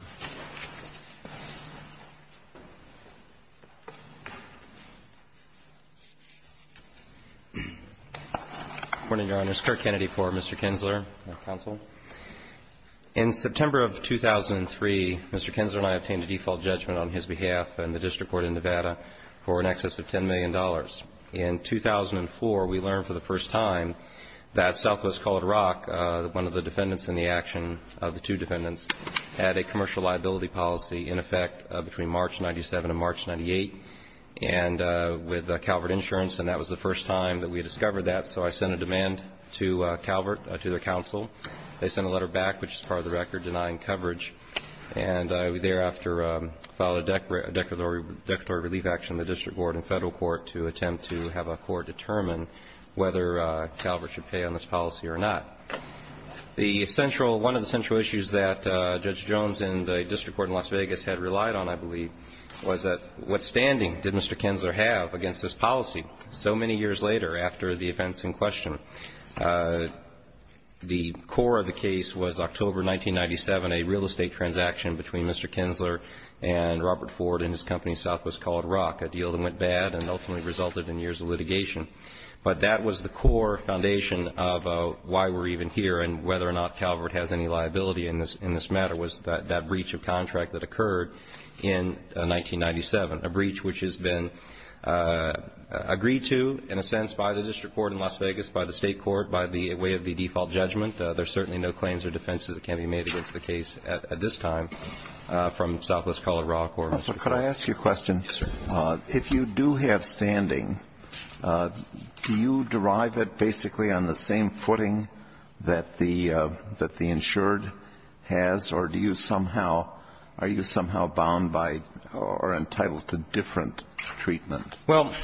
Good morning, Your Honors. Kirk Kennedy for Mr. Kinzler, counsel. In September of 2003, Mr. Kinzler and I obtained a default judgment on his behalf in the district court in Nevada for in excess of $10 million. In 2004, we learned for the first time that Southwest Colored Rock, one of the defendants in the action of the two defendants, had a commercial liability policy in effect between March 97 and March 98, and with Calvert Insurance, and that was the first time that we discovered that. So I sent a demand to Calvert, to their counsel. They sent a letter back, which is part of the record, denying coverage. And I thereafter filed a declaratory relief action in the district court and federal court to attempt to have a court determine whether Calvert should pay on this policy or not. The central, one of the central issues that Judge Jones in the district court in Las Vegas had relied on, I believe, was that what standing did Mr. Kinzler have against this policy so many years later after the events in question? The core of the case was October 1997, a real estate transaction between Mr. Kinzler and Robert Ford and his company Southwest Colored Rock, a deal that went bad and ultimately resulted in years of litigation. But that was the core foundation of why we're even here and whether or not Calvert has any liability in this matter was that breach of contract that occurred in 1997, a breach which has been agreed to, in a sense, by the district court in Las Vegas, by the state court, by the way of the default judgment. There's certainly no claims or defenses that can be made against the case at this time from Southwest Colored Rock or Mr. Kinzler. Alito, could I ask you a question? Yes, sir. If you do have standing, do you derive it basically on the same footing that the insured has, or do you somehow, are you somehow bound by or entitled to different treatment? Well,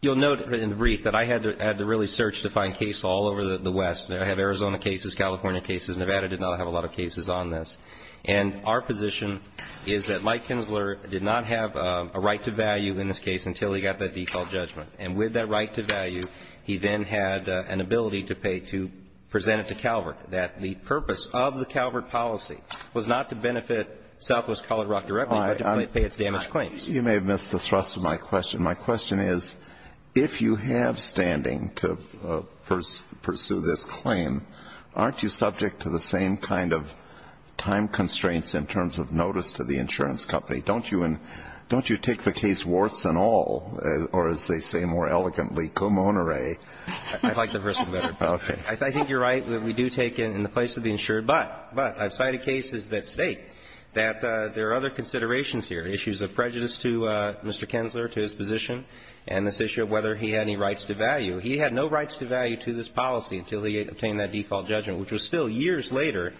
you'll note in the brief that I had to really search to find cases all over the West. I have Arizona cases, California cases. Nevada did not have a lot of cases on this. And our position is that Mike Kinzler did not have a right to value in this case until he got that default judgment. And with that right to value, he then had an ability to pay to present it to Calvert, that the purpose of the Calvert policy was not to benefit Southwest Colored Rock directly, but to pay its damaged claims. You may have missed the thrust of my question. My question is, if you have standing to pursue this claim, aren't you subject to the same kind of time constraints in terms of notice to the insurance company? Don't you take the case warts and all, or as they say more elegantly, come on, Ray? I'd like the first one better. Okay. I think you're right that we do take it in the place of the insured, but I've cited cases that state that there are other considerations here, issues of prejudice to Mr. Kinzler, to his position, and this issue of whether he had any rights to value. He had no rights to value to this policy until he obtained that default judgment, which was still years later.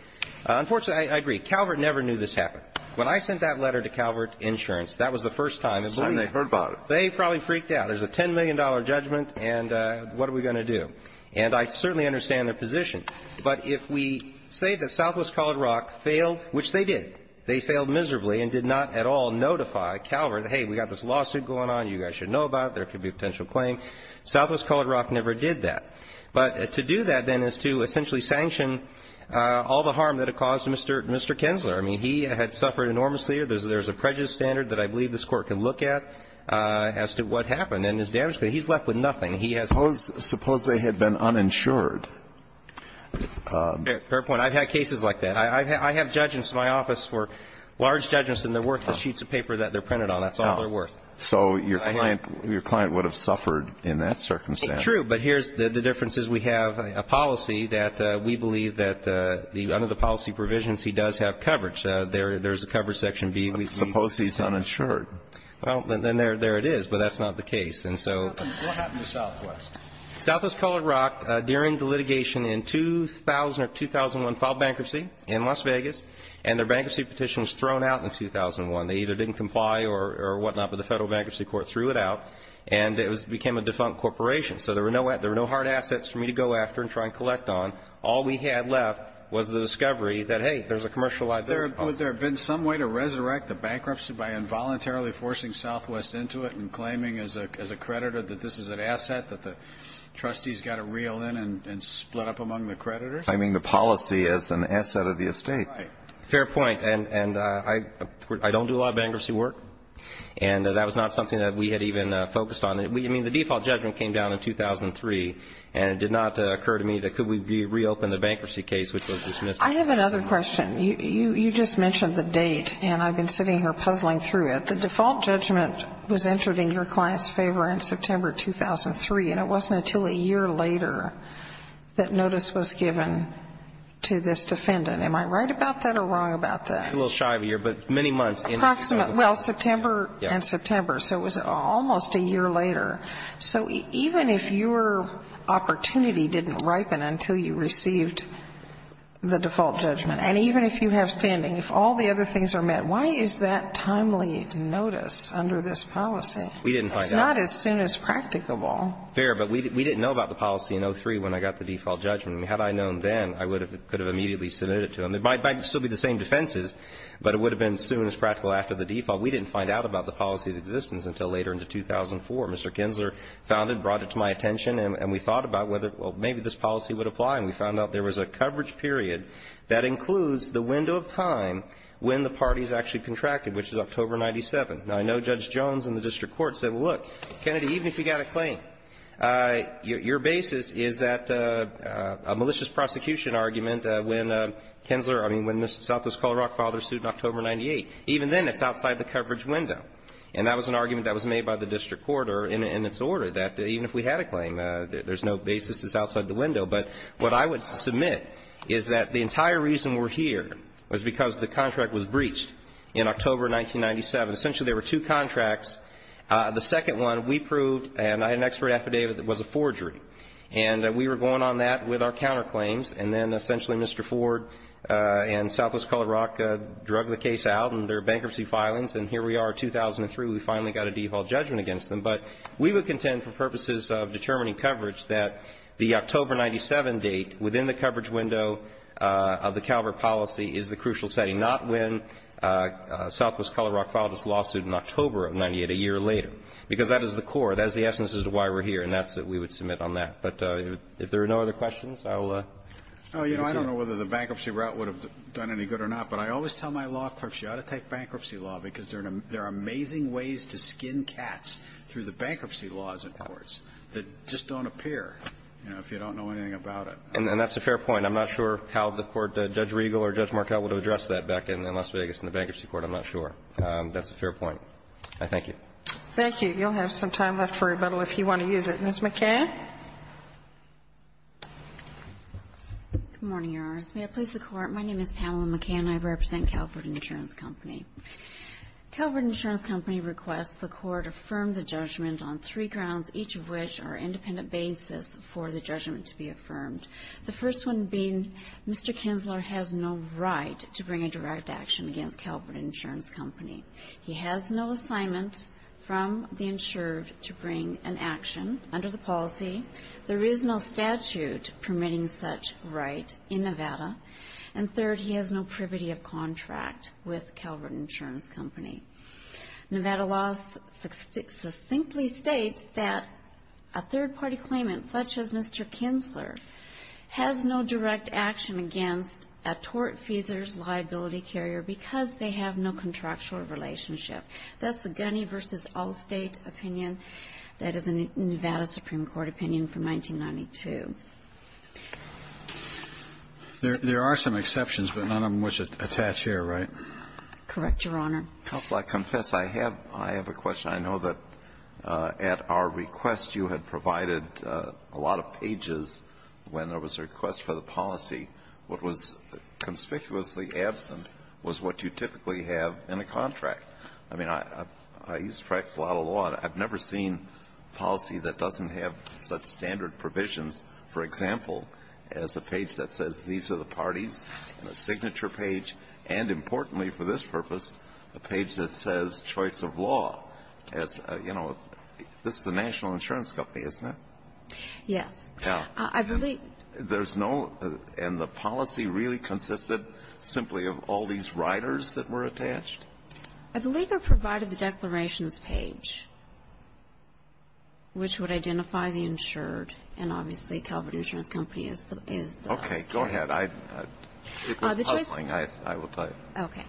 Unfortunately, I agree. Calvert never knew this happened. When I sent that letter to Calvert Insurance, that was the first time they believed it. It's the first time they heard about it. They probably freaked out. There's a $10 million judgment, and what are we going to do? And I certainly understand their position. But if we say that Southwest Colored Rock failed, which they did, they failed miserably and did not at all notify Calvert, hey, we've got this lawsuit going on, you guys should know about it, there could be a potential claim, Southwest Colored Rock never did that. But to do that, then, is to essentially sanction all the harm that it caused Mr. Kinzler. I mean, he had suffered enormously. There's a prejudice standard that I believe this Court can look at as to what happened and his damage. But he's left with nothing. He has nothing. Suppose they had been uninsured. Fair point. I've had cases like that. I have judgments in my office for large judgments, and they're worth the sheets of paper that they're printed on. That's all they're worth. So your client would have suffered in that circumstance. True. But here's the difference is we have a policy that we believe that under the policy provisions, he does have coverage. There's a coverage section B. Suppose he's uninsured. Well, then there it is. But that's not the case. And so what happened to Southwest? Southwest Colored Rock, during the litigation in 2000 or 2001, filed bankruptcy in Las Vegas, and their bankruptcy petition was thrown out in 2001. They either didn't comply or whatnot, but the Federal Bankruptcy Court threw it out and it became a defunct corporation. So there were no hard assets for me to go after and try and collect on. All we had left was the discovery that, hey, there's a commercial right there. Would there have been some way to resurrect the bankruptcy by involuntarily forcing Southwest into it and claiming as a creditor that this is an asset that the trustees got to reel in and split up among the creditors? Claiming the policy as an asset of the estate. Right. Fair point. And I don't do a lot of bankruptcy work. And that was not something that we had even focused on. I mean, the default judgment came down in 2003, and it did not occur to me that could we reopen the bankruptcy case, which was dismissed. I have another question. You just mentioned the date, and I've been sitting here puzzling through it. The default judgment was entered in your client's favor in September 2003, and it wasn't until a year later that notice was given to this defendant. Am I right about that or wrong about that? I'm a little shy of a year, but many months in. Approximately. Well, September and September. So it was almost a year later. So even if your opportunity didn't ripen until you received the default judgment, and even if you have standing, if all the other things are met, why is that timely notice under this policy? We didn't find out. It's not as soon as practicable. Fair. But we didn't know about the policy in 2003 when I got the default judgment. Had I known then, I would have been able to immediately submit it to them. It might still be the same defenses, but it would have been as soon as practical after the default. We didn't find out about the policy's existence until later into 2004. Mr. Kinsler found it, brought it to my attention, and we thought about whether maybe this policy would apply. And we found out there was a coverage period that includes the window of time when the parties actually contracted, which is October 97. Now, I know Judge Jones in the district court said, well, look, Kennedy, even if you got a claim, your basis is that a malicious prosecution argument when Kinsler Mr. Kinsler, I mean, when Southwest Colorado filed their suit in October 98. Even then, it's outside the coverage window. And that was an argument that was made by the district court in its order, that even if we had a claim, there's no basis, it's outside the window. But what I would submit is that the entire reason we're here was because the contract was breached in October 1997. Essentially, there were two contracts. The second one, we proved, and I had an expert affidavit, that it was a forgery. And we were going on that with our counterclaims, and then essentially Mr. Ford, and Southwest Colorado, drug the case out, and there are bankruptcy filings, and here we are 2003, we finally got a default judgment against them. But we would contend for purposes of determining coverage that the October 97 date within the coverage window of the Calvert policy is the crucial setting, not when Southwest Colorado filed its lawsuit in October of 98, a year later. Because that is the core, that is the essence as to why we're here, and that's what we would submit on that. But if there are no other questions, I will conclude. Roberts. Oh, you know, I don't know whether the bankruptcy route would have done any good or not, but I always tell my law clerks, you ought to take bankruptcy law, because there are amazing ways to skin cats through the bankruptcy laws in courts that just don't appear, you know, if you don't know anything about it. And that's a fair point. I'm not sure how the Court, Judge Riegel or Judge Markell, would have addressed that back in Las Vegas in the Bankruptcy Court. I'm not sure. That's a fair point. I thank you. Thank you. You'll have some time left for rebuttal if you want to use it. Ms. McCann. Good morning, Your Honors. May it please the Court. My name is Pamela McCann. I represent Calvert Insurance Company. Calvert Insurance Company requests the Court affirm the judgment on three grounds, each of which are independent basis for the judgment to be affirmed. The first one being Mr. Kinzler has no right to bring a direct action against Calvert Insurance Company. He has no assignment from the insured to bring an action under the policy. There is no statute permitting such right in Nevada. And third, he has no privity of contract with Calvert Insurance Company. Nevada law succinctly states that a third-party claimant, such as Mr. Kinzler, has no direct action against a tort-feasor's liability carrier because they have no contractual relationship. That's the Gunny v. Allstate opinion. That is a Nevada Supreme Court opinion from 1992. There are some exceptions, but none of them which attach here, right? Correct, Your Honor. Counsel, I confess I have a question. I know that at our request you had provided a lot of pages when there was a request for the policy. What was conspicuously absent was what you typically have in a contract. I mean, I used to practice a lot of law, and I've never seen policy that doesn't have such standard provisions. For example, as a page that says these are the parties, and a signature page, and importantly for this purpose, a page that says choice of law. As, you know, this is a national insurance company, isn't it? Yes. I believe there's no, and the policy really consisted simply of all these riders that were attached? I believe I provided the declarations page, which would identify the insured, and obviously Calvert Insurance Company is the. Okay. Go ahead. It was puzzling, I will tell you. Okay.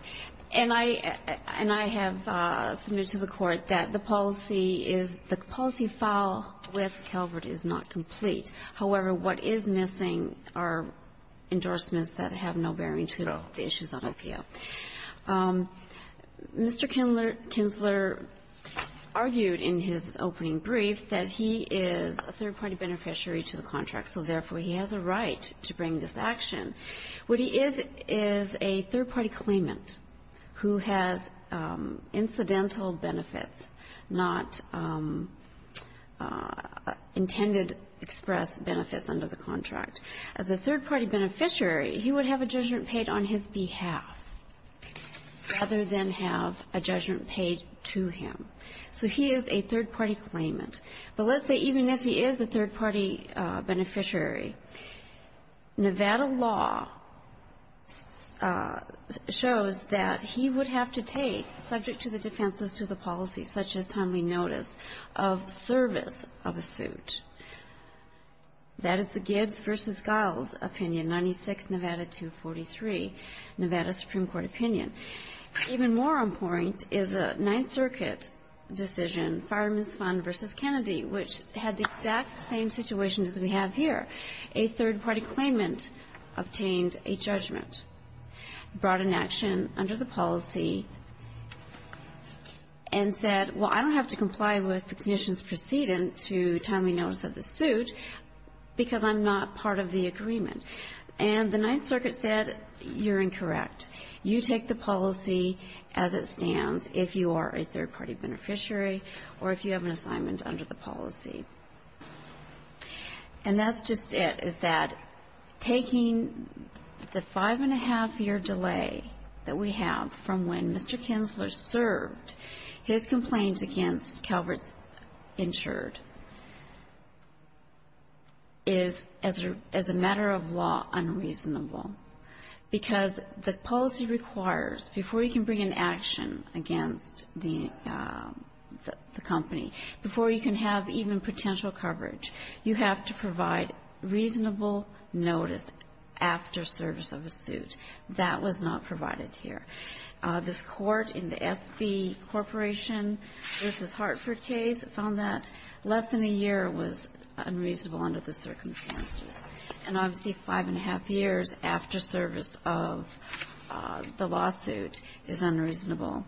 And I have submitted to the Court that the policy is, the policy file with Calvert is not complete. However, what is missing are endorsements that have no bearing to the issues on APO. Mr. Kinsler argued in his opening brief that he is a third-party beneficiary to the contract, so therefore he has a right to bring this action. What he is is a third-party claimant who has incidental benefits, not intangible intended express benefits under the contract. As a third-party beneficiary, he would have a judgment paid on his behalf rather than have a judgment paid to him. So he is a third-party claimant. But let's say even if he is a third-party beneficiary, Nevada law shows that he would have to take, subject to the defenses to the policy, such as timely notice of service of a suit. That is the Gibbs v. Giles opinion, 96 Nevada 243, Nevada Supreme Court opinion. Even more important is the Ninth Circuit decision, Fireman's Fund v. Kennedy, which had the exact same situation as we have here. A third-party claimant obtained a judgment, brought an action under the policy, and said, well, I don't have to comply with the conditions precedent to timely notice of the suit because I'm not part of the agreement. And the Ninth Circuit said, you're incorrect. You take the policy as it stands if you are a third-party beneficiary or if you have an assignment under the policy. And that's just it, is that taking the five-and-a-half-year delay that we have from when Mr. Kinsler served, his complaints against Calvert's insured, is, as a matter of law, unreasonable, because the policy requires, before you can bring an action against the company, before you can have even potential coverage, you have to provide that was not provided here. This Court in the S.B. Corporation v. Hartford case found that less than a year was unreasonable under the circumstances. And obviously, five-and-a-half years after service of the lawsuit is unreasonable.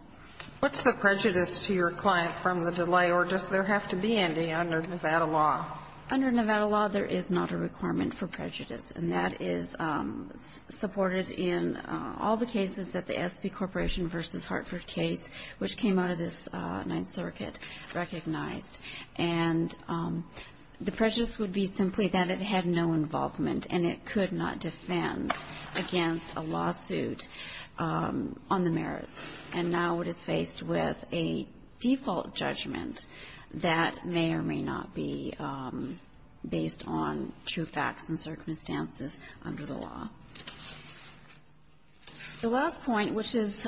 What's the prejudice to your client from the delay, or does there have to be any under Nevada law? Under Nevada law, there is not a requirement for prejudice. And that is supported in all the cases that the S.B. Corporation v. Hartford case, which came out of this Ninth Circuit, recognized. And the prejudice would be simply that it had no involvement and it could not defend against a lawsuit on the merits. And now it is faced with a default judgment that may or may not be based on true facts and circumstances under the law. The last point, which is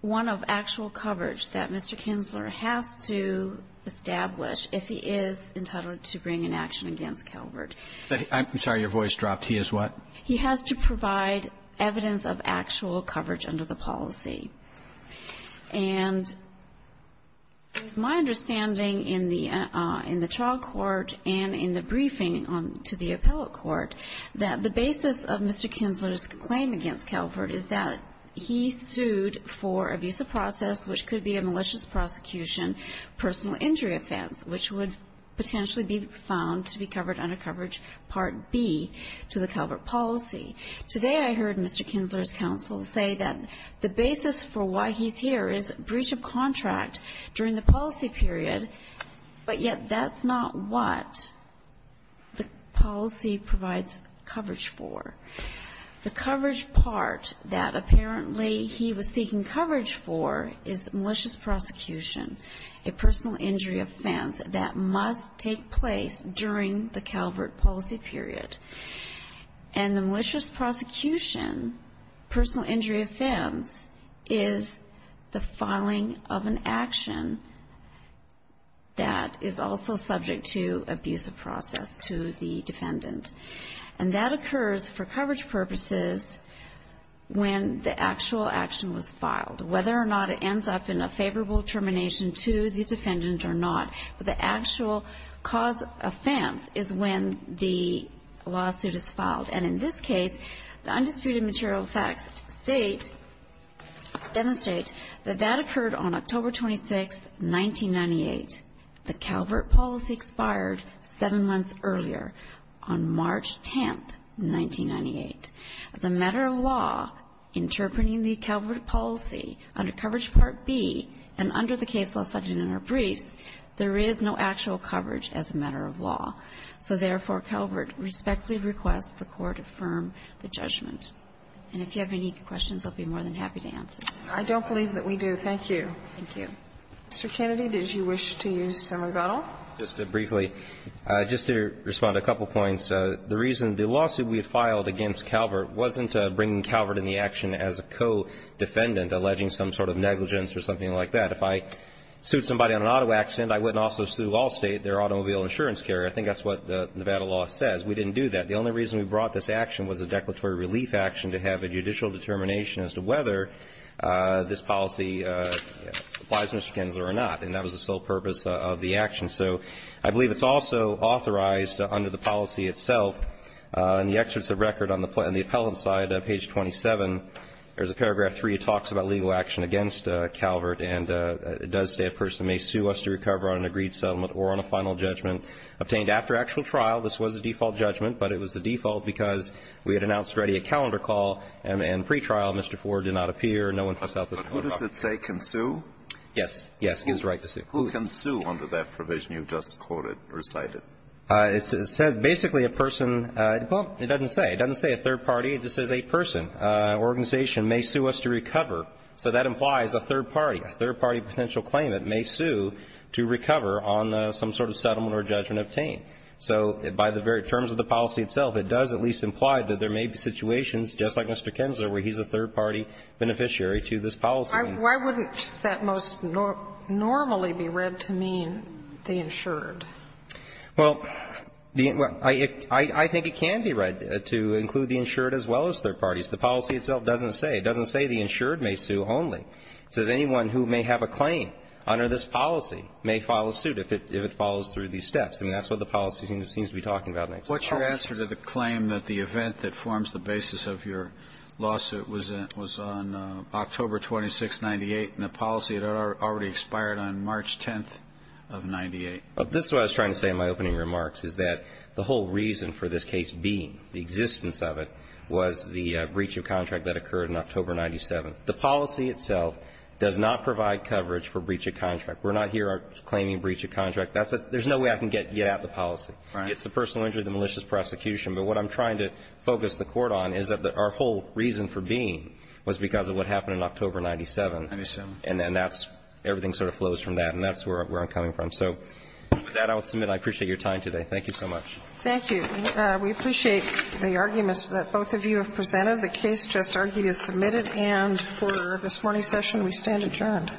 one of actual coverage that Mr. Kinsler has to establish if he is entitled to bring an action against Calvert. I'm sorry, your voice dropped. He is what? He has to provide evidence of actual coverage under the policy. And my understanding in the trial court and in the briefing to the appellate court, that the basis of Mr. Kinsler's claim against Calvert is that he sued for abuse of process, which could be a malicious prosecution, personal injury offense, which would potentially be found to be covered under coverage Part B to the Calvert policy. Today, I heard Mr. Kinsler's counsel say that the basis for why he's here is breach of contract during the policy period, but yet that's not what the policy provides coverage for. The coverage part that apparently he was seeking coverage for is malicious prosecution, a personal injury offense that must take place during the Calvert policy period. And the malicious prosecution, personal injury offense, is the filing of an action that is also subject to abuse of process to the defendant. And that occurs for coverage purposes when the actual action was filed. Whether or not it ends up in a favorable termination to the defendant or not, but the actual cause offense is when the lawsuit is filed. And in this case, the undisputed material facts state, demonstrate, that that occurred on October 26, 1998. The Calvert policy expired seven months earlier, on March 10, 1998. As a matter of law, interpreting the Calvert policy under coverage Part B and under the case law subject in our briefs, there is no actual coverage as a matter of law. So, therefore, Calvert respectfully requests the Court affirm the judgment. And if you have any questions, I'll be more than happy to answer. I don't believe that we do. Thank you. Thank you. Mr. Kennedy, did you wish to use some rebuttal? Just briefly, just to respond to a couple of points. The reason the lawsuit we filed against Calvert wasn't bringing Calvert in the action as a co-defendant alleging some sort of negligence or something like that. If I sued somebody on an auto accident, I wouldn't also sue Allstate, their automobile insurance carrier. I think that's what the Nevada law says. We didn't do that. The only reason we brought this action was a declaratory relief action to have a judicial determination as to whether this policy applies, Mr. Kennedy, or not. And that was the sole purpose of the action. So I believe it's also authorized under the policy itself, in the excerpts of record on the appellant side, page 27, there's a paragraph 3. It talks about legal action against Calvert. And it does say a person may sue us to recover on an agreed settlement or on a final judgment obtained after actual trial. This was a default judgment, but it was a default because we had announced already a calendar call and pretrial. Mr. Ford did not appear. No one passed out the photograph. But who does it say can sue? Yes. Yes, he has the right to sue. Who can sue under that provision you just quoted, recited? It says basically a person – well, it doesn't say. It doesn't say a third party. It just says a person, an organization, may sue us to recover. So that implies a third party, a third-party potential claimant may sue to recover on some sort of settlement or judgment obtained. So by the very terms of the policy itself, it does at least imply that there may be situations, just like Mr. Kensler, where he's a third-party beneficiary to this policy. Why wouldn't that most normally be read to mean the insured? Well, I think it can be read to include the insured as well as third parties. The policy itself doesn't say. It doesn't say the insured may sue only. It says anyone who may have a claim under this policy may file a suit if it follows through these steps. I mean, that's what the policy seems to be talking about. What's your answer to the claim that the event that forms the basis of your lawsuit was on October 26, 1998, and the policy had already expired on March 10th of 1998? This is what I was trying to say in my opening remarks, is that the whole reason for this case being, the existence of it, was the breach of contract that occurred in October 1997. The policy itself does not provide coverage for breach of contract. We're not here claiming breach of contract. There's no way I can get at the policy. It's the personal injury of the malicious prosecution. But what I'm trying to focus the court on is that our whole reason for being was because of what happened in October 1997. And then that's, everything sort of flows from that, and that's where I'm coming from. So with that, I will submit. I appreciate your time today. Thank you so much. Thank you. We appreciate the arguments that both of you have presented. The case just argued is submitted, and for this morning's session, we stand adjourned.